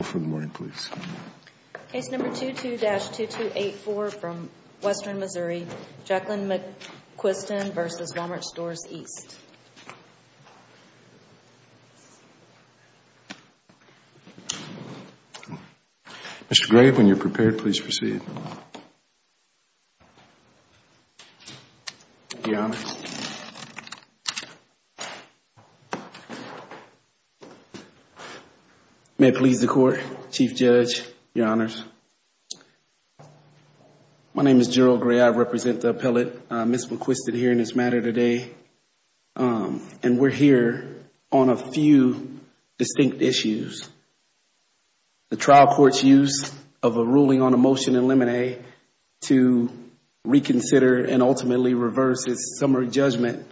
Mr. Gray, when you're prepared, please proceed. Your Honor. May it please the Court? Thank you, Your Honor, Chief Judge, Your Honors. My name is Gerald Gray. I represent the appellate, Ms. McQuiston, here in this matter today. And we're here on a few distinct issues. The trial court's use of a ruling on a motion in limine to reconsider and ultimately reverse its summary judgment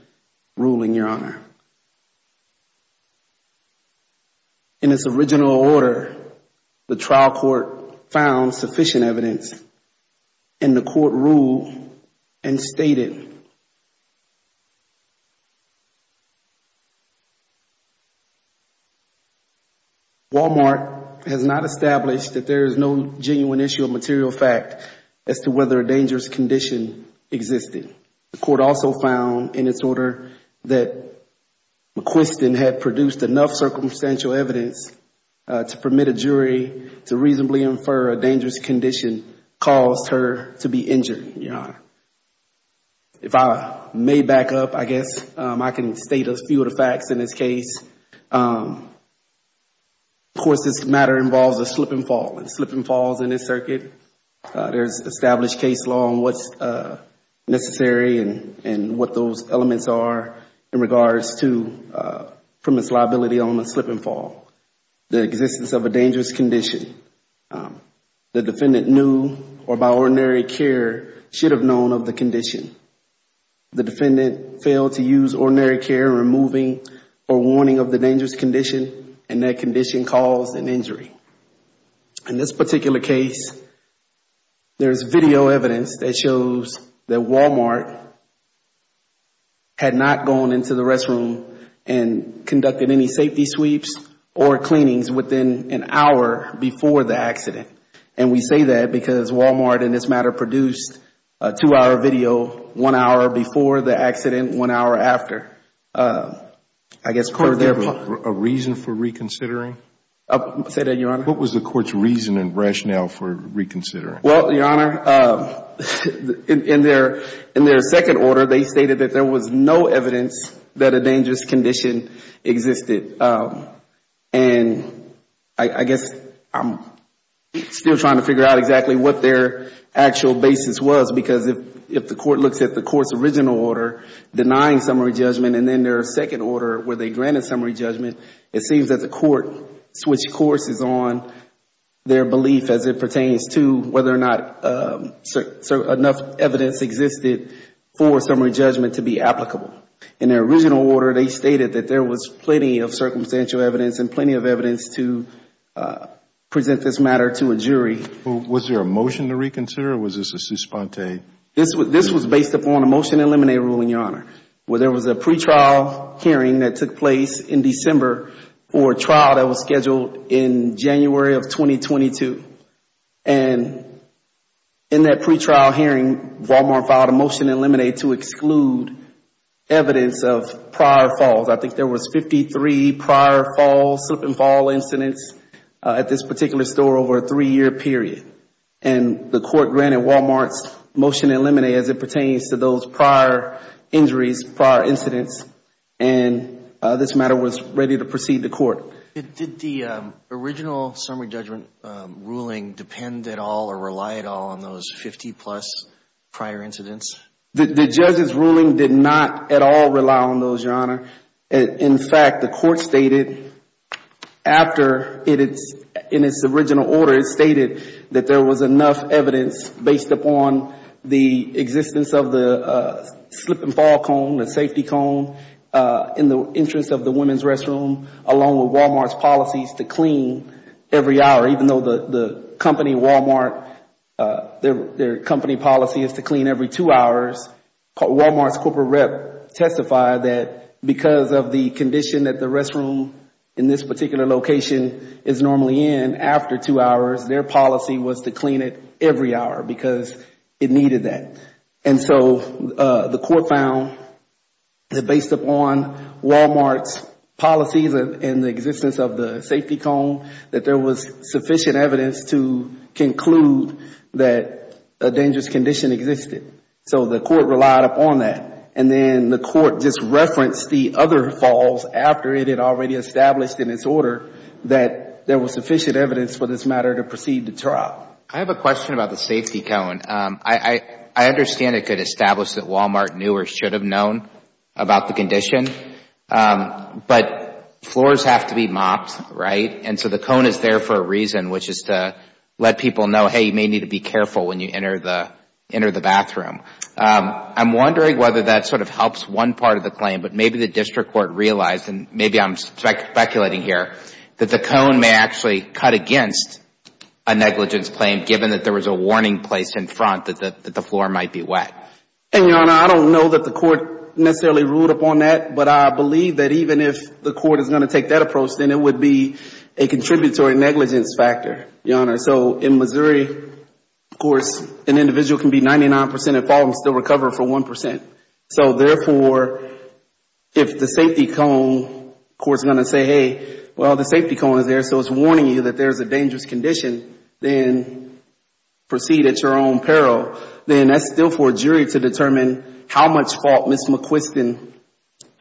ruling, Your Honor. In its original order, the trial court found sufficient evidence in the court rule and stated, Walmart has not established that there is no genuine issue of material fact as to whether a dangerous condition existed. The court also found in its order that McQuiston had produced enough circumstantial evidence to permit a jury to reasonably infer a dangerous condition caused her to be injured, Your Honor. If I may back up, I guess I can state a few of the facts in this case. Of course, this matter involves a slip and fall. A slip and fall is in this circuit. There's established case law on what's necessary and what those elements are in regards to permits liability on a slip and fall. The existence of a dangerous condition. The defendant knew or, by ordinary care, should have known of the condition. The defendant failed to use ordinary care in removing or warning of the dangerous condition and that condition caused an injury. In this particular case, there's video evidence that shows that Walmart had not gone into the restroom and conducted any safety sweeps or cleanings within an hour before the accident. We say that because Walmart, in this matter, produced a two-hour video one hour before the accident, one hour after. A reason for reconsidering? Say that, Your Honor. What was the court's reason and rationale for reconsidering? Your Honor, in their second order, they stated that there was no evidence that a dangerous condition existed. I guess I'm still trying to figure out exactly what their actual basis was. Because if the court looks at the court's original order denying summary judgment and then their second order where they granted summary judgment, it seems that the court switched courses on their belief as it pertains to whether or not enough evidence existed for summary judgment to be applicable. In their original order, they stated that there was plenty of circumstantial evidence and plenty of evidence to present this matter to a jury. Was there a motion to reconsider or was this a suspente? This was based upon a motion to eliminate a ruling, Your Honor. There was a pretrial hearing that took place in December for a trial that was scheduled in January of 2022. And in that pretrial hearing, Walmart filed a motion to eliminate to exclude evidence of prior falls. I think there was 53 prior falls, slip and fall incidents at this particular store over a three-year period. And the court granted Walmart's motion to eliminate as it pertains to those prior injuries, prior incidents. And this matter was ready to proceed to court. Did the original summary judgment ruling depend at all or rely at all on those 50-plus prior incidents? The judge's ruling did not at all rely on those, Your Honor. In fact, the court stated in its original order, it stated that there was enough evidence based upon the existence of the slip and fall cone, the safety cone in the entrance of the women's restroom, along with Walmart's policies to clean every hour, even though the company Walmart, their company policy is to clean every two hours. Walmart's corporate rep testified that because of the condition that the restroom in this particular location is normally in after two hours, their policy was to clean it every hour because it needed that. And so the court found that based upon Walmart's policies and the existence of the safety cone, that there was sufficient evidence to conclude that a dangerous condition existed. So the court relied upon that. And then the court just referenced the other falls after it had already established in its order that there was sufficient evidence for this matter to proceed to trial. I have a question about the safety cone. I understand it could establish that Walmart knew or should have known about the condition. But floors have to be mopped, right? And so the cone is there for a reason, which is to let people know, hey, you may need to be careful when you enter the bathroom. I'm wondering whether that sort of helps one part of the claim. But maybe the district court realized, and maybe I'm speculating here, that the cone may actually cut against a negligence claim, given that there was a warning place in front that the floor might be wet. And, Your Honor, I don't know that the court necessarily ruled upon that. But I believe that even if the court is going to take that approach, then it would be a contributory negligence factor, Your Honor. So in Missouri, of course, an individual can be 99 percent at fault and still recover for 1 percent. So therefore, if the safety cone court is going to say, hey, well, the safety cone is there, so it's warning you that there's a dangerous condition, then proceed at your own peril. Then that's still for a jury to determine how much fault Ms. McQuiston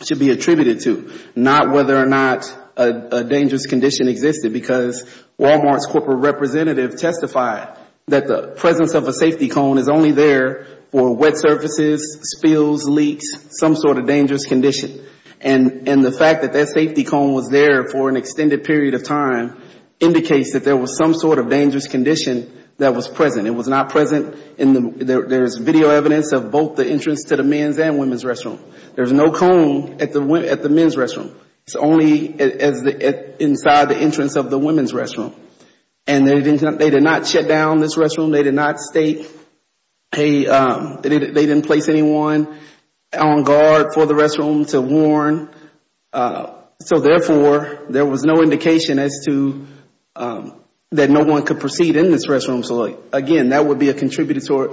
should be attributed to, not whether or not a dangerous condition existed. Because Walmart's corporate representative testified that the presence of a safety cone is only there for wet surfaces, spills, leaks, some sort of dangerous condition. And the fact that that safety cone was there for an extended period of time indicates that there was some sort of dangerous condition that was present. It was not present in the There's video evidence of both the entrance to the men's and women's restroom. There's no cone at the men's restroom. It's only inside the entrance of the women's restroom. And they did not shut down this restroom. They did not state they didn't place anyone on guard for the restroom to warn. So therefore, there was no indication as to that no one could proceed in this restroom. So again, that would be a contributory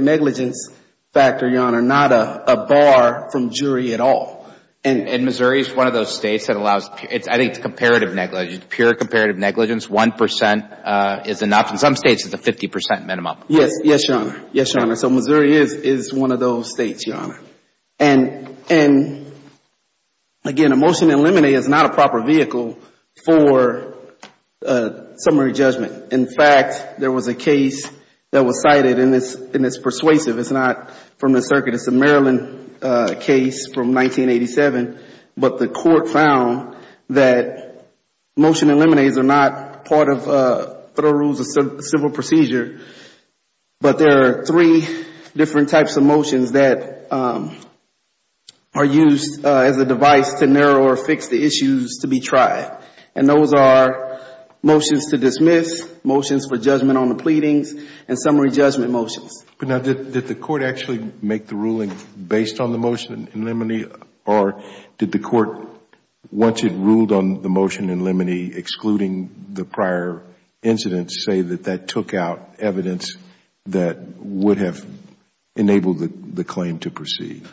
negligence factor, Your Honor, not a bar from jury at all. And Missouri is one of those States that allows, I think it's comparative negligence, pure comparative negligence. One percent is enough. In some States, it's a 50 percent minimum. Yes, Your Honor. Yes, Your Honor. So Missouri is one of those States, Your Honor. And again, a motion to eliminate is not a proper vehicle for summary judgment. In fact, there was a case that was cited, and it's persuasive. It's not from the circuit. It's a Maryland case from 1987. But the court found that motion eliminates are not part of federal rules of civil procedure. But there are three different types of motions that are used as a device to narrow or fix the issues to be tried. And those are motions to dismiss, motions for judgment on the pleadings, and summary judgment motions. Now, did the court actually make the ruling based on the motion in limine or did the court, once it ruled on the motion in limine, excluding the prior incidents, say that that took out evidence that would have enabled the claim to proceed?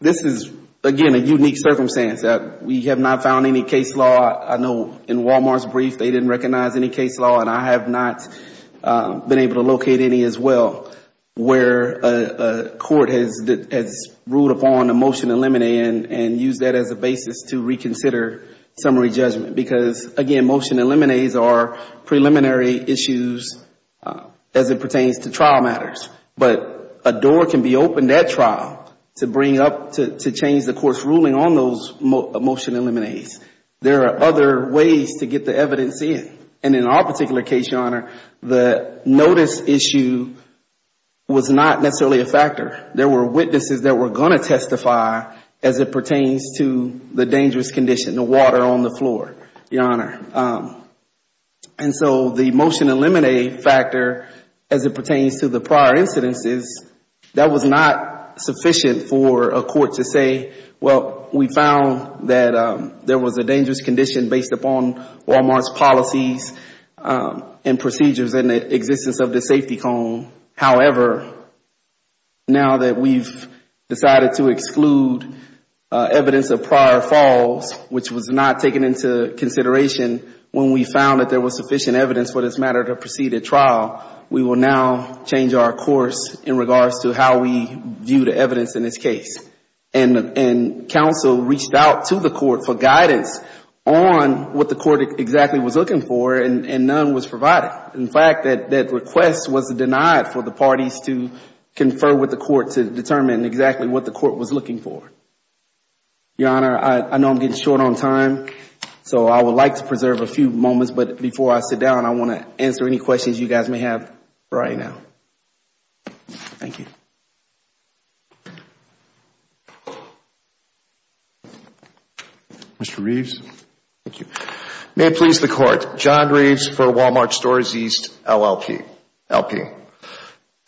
This is, again, a unique circumstance. We have not found any case law. I know in Walmart's brief, they didn't recognize any case law, and I have not been able to locate any as well, where a court has ruled upon a motion to eliminate and used that as a basis to reconsider summary judgment. Because, again, motion eliminates are preliminary issues as it pertains to trial matters. But a door can be opened at trial to bring up, to change the court's ruling on those motion eliminates. There are other ways to get the evidence in. And in our particular case, Your Honor, the notice issue was not necessarily a factor. There were witnesses that were going to testify as it pertains to the dangerous condition, the water on the floor, Your Honor. And so the motion eliminate factor, as it pertains to the prior incidences, that was not sufficient for a court to say, well, we found that there was a dangerous condition based upon Walmart's policies and procedures and the existence of the safety cone. However, now that we've decided to exclude evidence of prior falls, which was not taken into consideration, when we found that there was sufficient evidence for this matter to proceed at trial, we will now change our course in regards to how we view the evidence in this case. And counsel reached out to the court for guidance on what the court exactly was looking for, and none was provided. In fact, that request was denied for the parties to confer with the court to determine exactly what the court was looking for. Your Honor, I know I'm getting short on time, so I would like to preserve a few moments. But before I sit down, I want to answer any questions you guys may have right now. Thank you. Mr. Reeves. Thank you. May it please the Court. John Reeves for Walmart Stores East, LLP.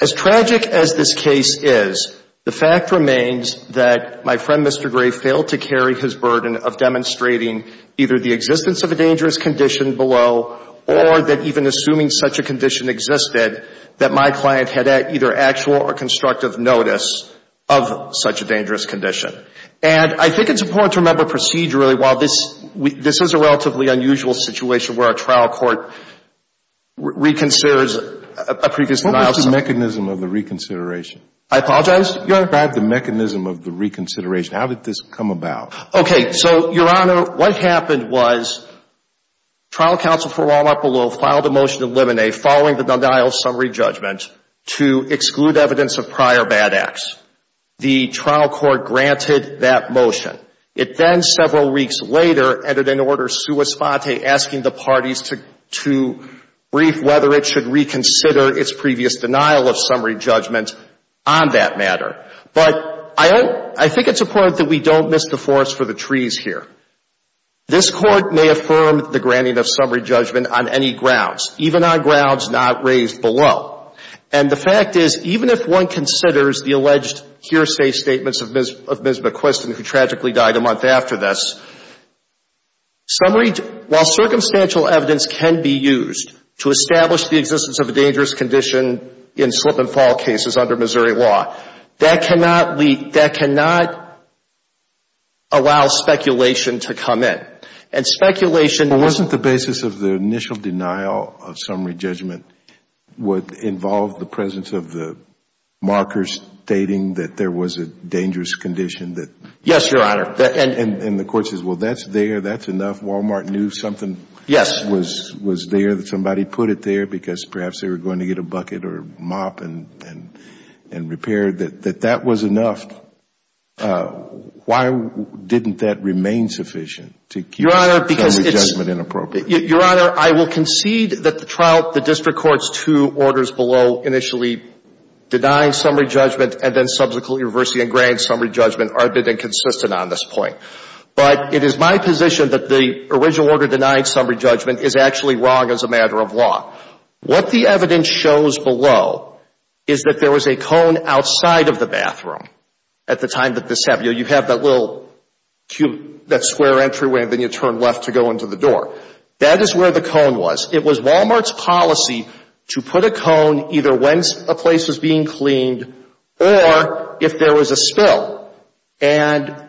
As tragic as this case is, the fact remains that my friend, Mr. Gray, failed to carry his burden of demonstrating either the existence of a dangerous condition below or that even assuming such a condition existed, that my client had either actual or constructive notice of such a dangerous condition. And I think it's important to remember procedurally while this is a relatively unusual situation where a trial court reconsiders a previous denial of summary. What was the mechanism of the reconsideration? I apologize? You described the mechanism of the reconsideration. How did this come about? Okay. So, Your Honor, what happened was trial counsel for Walmart below filed a motion to eliminate, following the denial of summary judgment, to exclude evidence of prior bad acts. The trial court granted that motion. It then, several weeks later, entered into order sua sponte, asking the parties to brief whether it should reconsider its previous denial of summary judgment on that matter. But I think it's important that we don't miss the forest for the trees here. This Court may affirm the granting of summary judgment on any grounds, even on grounds not raised below. And the fact is, even if one considers the alleged hearsay statements of Ms. McQuiston, who tragically died a month after this, summary, while circumstantial evidence can be used to establish the existence of a dangerous condition in slip-and-fall cases under Missouri law, that cannot allow speculation to come in. Well, wasn't the basis of the initial denial of summary judgment, would involve the presence of the markers stating that there was a dangerous condition? Yes, Your Honor. And the court says, well, that's there, that's enough. Walmart knew something was there, that somebody put it there, because perhaps they were going to get a bucket or mop and repair. That that was enough. Why didn't that remain sufficient to keep summary judgment inappropriate? Your Honor, I will concede that the trial, the district court's two orders below, initially denying summary judgment and then subsequently reversing and granting summary judgment, are a bit inconsistent on this point. But it is my position that the original order denying summary judgment is actually wrong as a matter of law. What the evidence shows below is that there was a cone outside of the bathroom at the time that this happened. You know, you have that little cube, that square entryway, and then you turn left to go into the door. That is where the cone was. It was Walmart's policy to put a cone either when a place was being cleaned or if there was a spill. And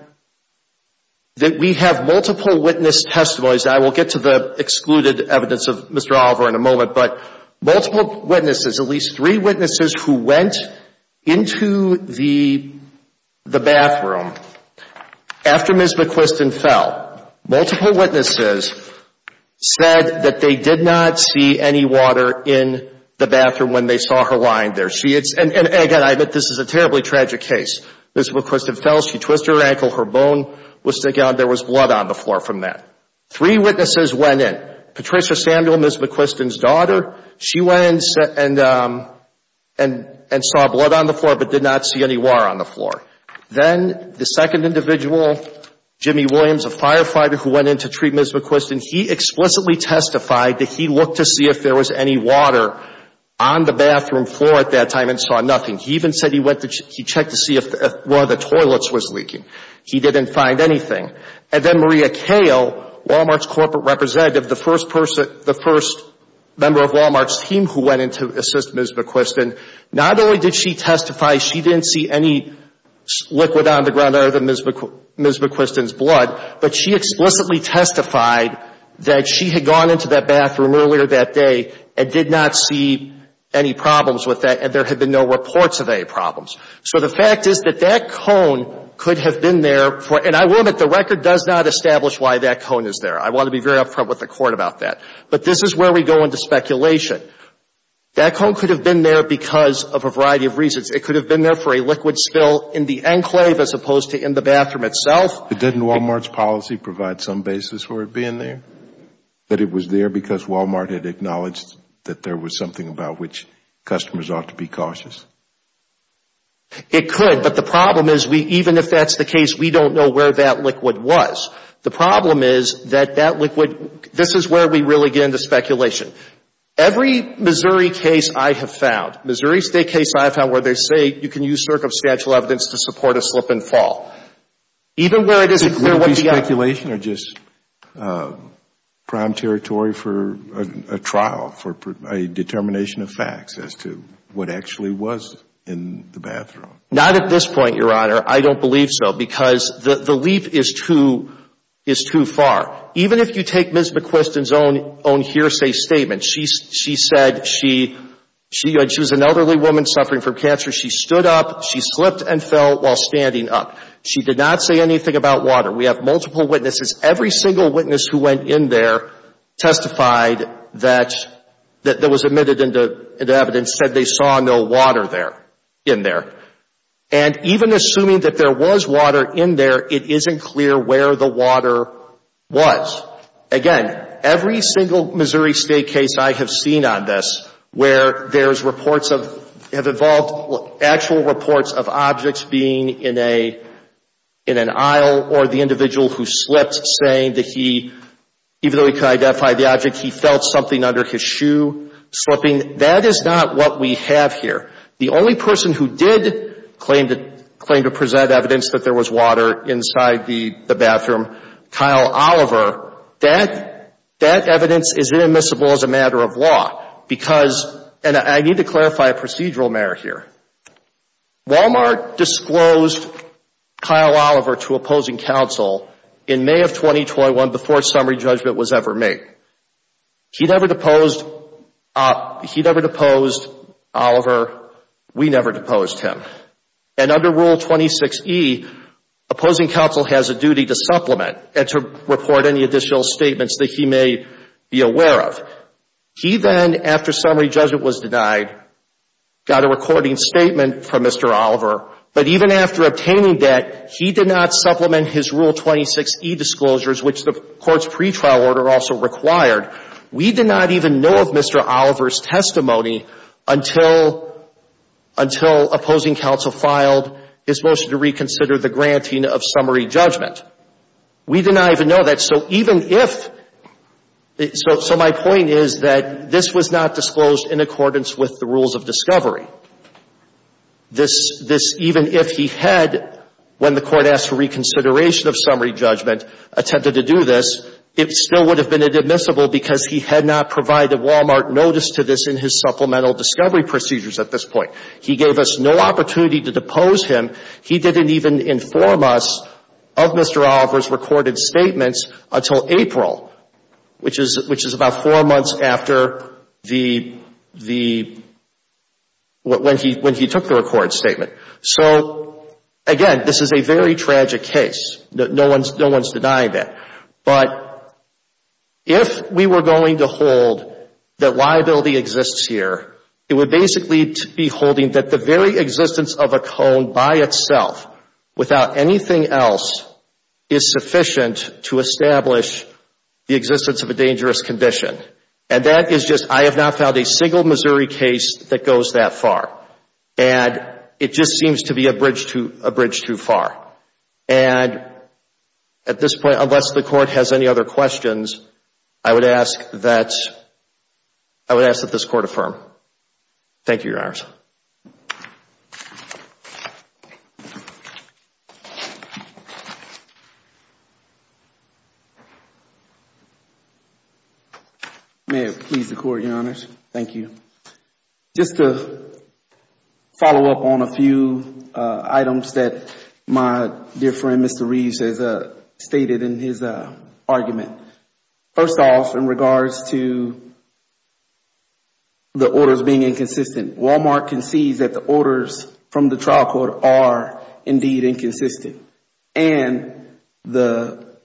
we have multiple witness testimonies. I will get to the excluded evidence of Mr. Oliver in a moment. But multiple witnesses, at least three witnesses who went into the bathroom after Ms. McQuiston fell, multiple witnesses said that they did not see any water in the bathroom when they saw her lying there. And, again, I admit this is a terribly tragic case. Ms. McQuiston fell, she twisted her ankle, her bone was sticking out, and there was blood on the floor from that. Three witnesses went in, Patricia Samuel, Ms. McQuiston's daughter. She went and saw blood on the floor but did not see any water on the floor. Then the second individual, Jimmy Williams, a firefighter who went in to treat Ms. McQuiston, he explicitly testified that he looked to see if there was any water on the bathroom floor at that time and saw nothing. He even said he checked to see if one of the toilets was leaking. He didn't find anything. And then Maria Kale, Walmart's corporate representative, the first member of Walmart's team who went in to assist Ms. McQuiston, not only did she testify she didn't see any liquid on the ground other than Ms. McQuiston's blood, but she explicitly testified that she had gone into that bathroom earlier that day and did not see any problems with that and there had been no reports of any problems. So the fact is that that cone could have been there, and I will admit the record does not establish why that cone is there. I want to be very upfront with the Court about that. But this is where we go into speculation. That cone could have been there because of a variety of reasons. It could have been there for a liquid spill in the enclave as opposed to in the bathroom itself. Didn't Walmart's policy provide some basis for it being there? That it was there because Walmart had acknowledged that there was something about which customers ought to be cautious? It could, but the problem is we, even if that's the case, we don't know where that liquid was. The problem is that that liquid, this is where we really get into speculation. Every Missouri case I have found, Missouri State case I have found where they say you can use circumstantial evidence to support a slip and fall. Even where it isn't clear what the outcome is. Not at this point, Your Honor. I don't believe so because the leap is too far. Even if you take Ms. McQuiston's own hearsay statement, she said she was an elderly woman suffering from cancer. She stood up, she slipped and fell while standing up. She did not say anything about water. We have multiple witnesses. Every single witness who went in there testified that, that was admitted into evidence said they saw no water there, in there. And even assuming that there was water in there, it isn't clear where the water was. Again, every single Missouri State case I have seen on this where there's reports of, have involved actual reports of objects being in a, in an aisle, or the individual who slipped saying that he, even though he could identify the object, he felt something under his shoe slipping. That is not what we have here. The only person who did claim to, claim to present evidence that there was water inside the, the bathroom, Kyle Oliver, that, that evidence is inadmissible as a matter of law because, and I need to clarify a procedural merit here. Walmart disclosed Kyle Oliver to opposing counsel in May of 2021 before a summary judgment was ever made. He never deposed, he never deposed Oliver. We never deposed him. And under Rule 26E, opposing counsel has a duty to supplement and to report any additional statements that he may be aware of. He then, after summary judgment was denied, got a recording statement from Mr. Oliver. But even after obtaining that, he did not supplement his Rule 26E disclosures, which the court's pretrial order also required. We did not even know of Mr. Oliver's testimony until, until opposing counsel filed his motion to reconsider the granting of summary judgment. We did not even know that. So even if, so, so my point is that this was not disclosed in accordance with the rules of discovery. This, this, even if he had, when the court asked for reconsideration of summary judgment, attempted to do this, it still would have been inadmissible because he had not provided Walmart notice to this in his supplemental discovery procedures at this point. He gave us no opportunity to depose him. He didn't even inform us of Mr. Oliver's recorded statements until April, which is, which is about four months after the, the, when he, when he took the recorded statement. So, again, this is a very tragic case. No one's, no one's denying that. But if we were going to hold that liability exists here, it would basically be holding that the very existence of a cone by itself, without anything else, is sufficient to establish the existence of a dangerous condition. And that is just, I have not found a single Missouri case that goes that far. And it just seems to be a bridge too, a bridge too far. And at this point, unless the court has any other questions, I would ask that, I would ask that this court affirm. Thank you, Your Honors. May it please the Court, Your Honors. Thank you. Just to follow up on a few items that my dear friend, Mr. Reeves, has stated in his argument. First off, in regards to the orders being inconsistent, Walmart concedes that the orders from the trial court are indeed inconsistent. And the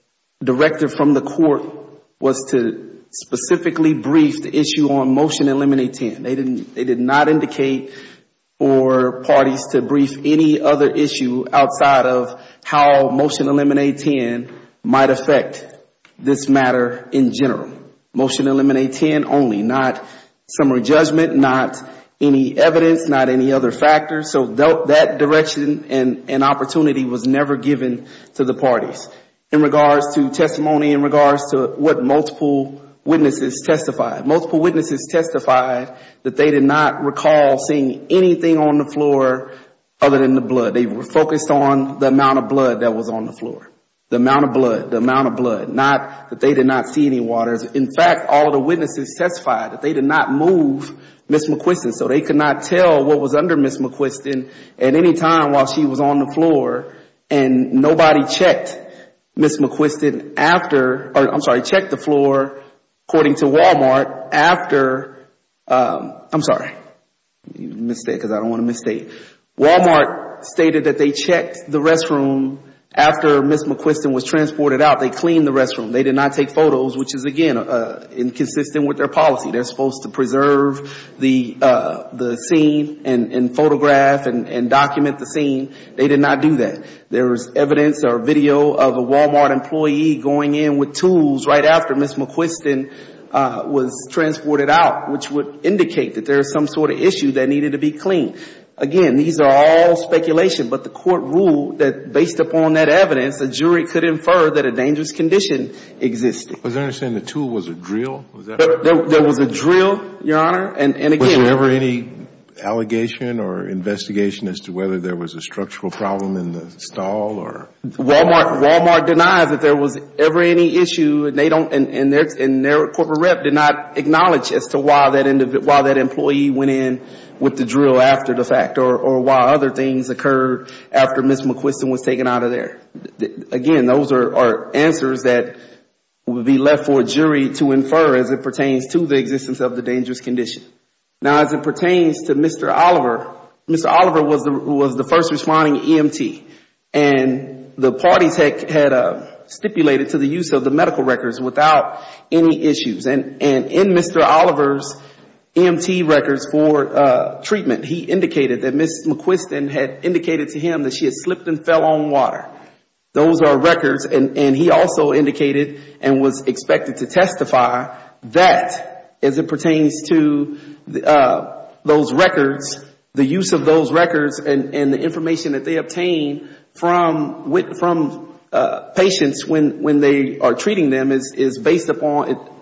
director from the court was to specifically brief the issue on Motion Eliminate 10. They did not indicate for parties to brief any other issue outside of how Motion Eliminate 10 might affect this matter in general. Motion Eliminate 10 only, not summary judgment, not any evidence, not any other factors. So that direction and opportunity was never given to the parties. In regards to testimony, in regards to what multiple witnesses testified. Multiple witnesses testified that they did not recall seeing anything on the floor other than the blood. They were focused on the amount of blood that was on the floor. The amount of blood, the amount of blood. Not that they did not see any waters. In fact, all of the witnesses testified that they did not move Ms. McQuiston. So they could not tell what was under Ms. McQuiston at any time while she was on the floor. And nobody checked Ms. McQuiston after, I'm sorry, checked the floor, according to Walmart, after, I'm sorry. I made a mistake because I don't want to misstate. Walmart stated that they checked the restroom after Ms. McQuiston was transported out. They cleaned the restroom. They did not take photos, which is, again, inconsistent with their policy. They're supposed to preserve the scene and photograph and document the scene. They did not do that. There was evidence or video of a Walmart employee going in with tools right after Ms. McQuiston was transported out, which would indicate that there was some sort of issue that needed to be cleaned. Again, these are all speculation. But the court ruled that based upon that evidence, a jury could infer that a dangerous condition existed. Was there a saying the tool was a drill? There was a drill, Your Honor, and again Was there ever any allegation or investigation as to whether there was a structural problem in the stall or? Walmart denies that there was ever any issue. And they don't, and their corporate rep did not acknowledge as to why that employee went in with the drill after the fact or why other things occurred after Ms. McQuiston was taken out of there. Again, those are answers that would be left for a jury to infer as it pertains to the existence of the dangerous condition. Now, as it pertains to Mr. Oliver, Mr. Oliver was the first responding EMT. And the parties had stipulated to the use of the medical records without any issues. And in Mr. Oliver's EMT records for treatment, he indicated that Ms. McQuiston had indicated to him that she had slipped and fell on water. Those are records, and he also indicated and was expected to testify that, as it pertains to those records, the use of those records and the information that they obtained from patients when they are treating them is based upon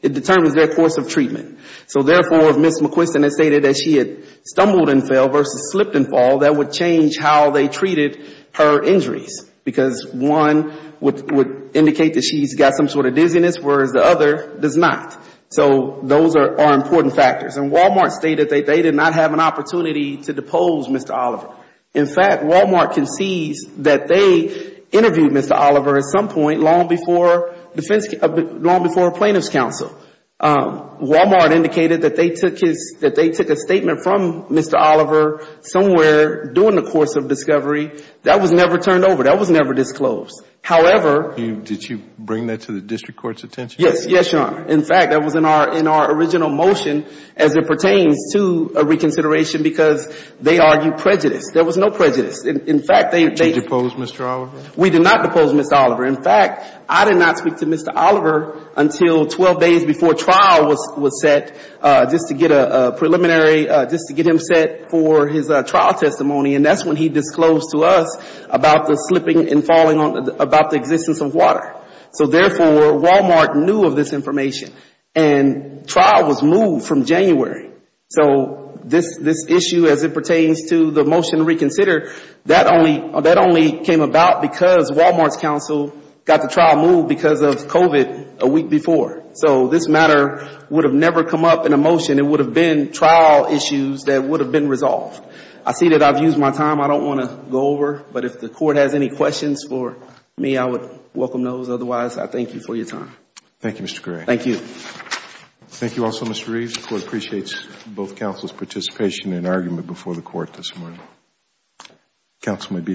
it determines their course of treatment. So therefore, if Ms. McQuiston had stated that she had stumbled and fell versus slipped and fell, that would change how they treated her injuries. Because one would indicate that she's got some sort of dizziness, whereas the other does not. So those are important factors. And Walmart stated that they did not have an opportunity to depose Mr. Oliver. In fact, Walmart concedes that they interviewed Mr. Oliver at some point long before plaintiff's counsel. Walmart indicated that they took a statement from Mr. Oliver somewhere during the course of discovery. That was never turned over. That was never disclosed. However, Did you bring that to the district court's attention? Yes, Your Honor. In fact, that was in our original motion as it pertains to a reconsideration because they argued prejudice. There was no prejudice. In fact, they Did you depose Mr. Oliver? We did not depose Mr. Oliver. In fact, I did not speak to Mr. Oliver until 12 days before trial was set just to get a preliminary, just to get him set for his trial testimony. And that's when he disclosed to us about the slipping and falling, about the existence of water. So therefore, Walmart knew of this information. And trial was moved from January. So this issue as it pertains to the motion to reconsider, that only came about because Walmart's counsel got the trial moved because of COVID a week before. So this matter would have never come up in a motion. It would have been trial issues that would have been resolved. I see that I've used my time. I don't want to go over. But if the court has any questions for me, I would welcome those. Otherwise, I thank you for your time. Thank you, Mr. Gray. Thank you. Thank you also, Mr. Reeves. The court appreciates both counsel's participation and argument before the court this morning.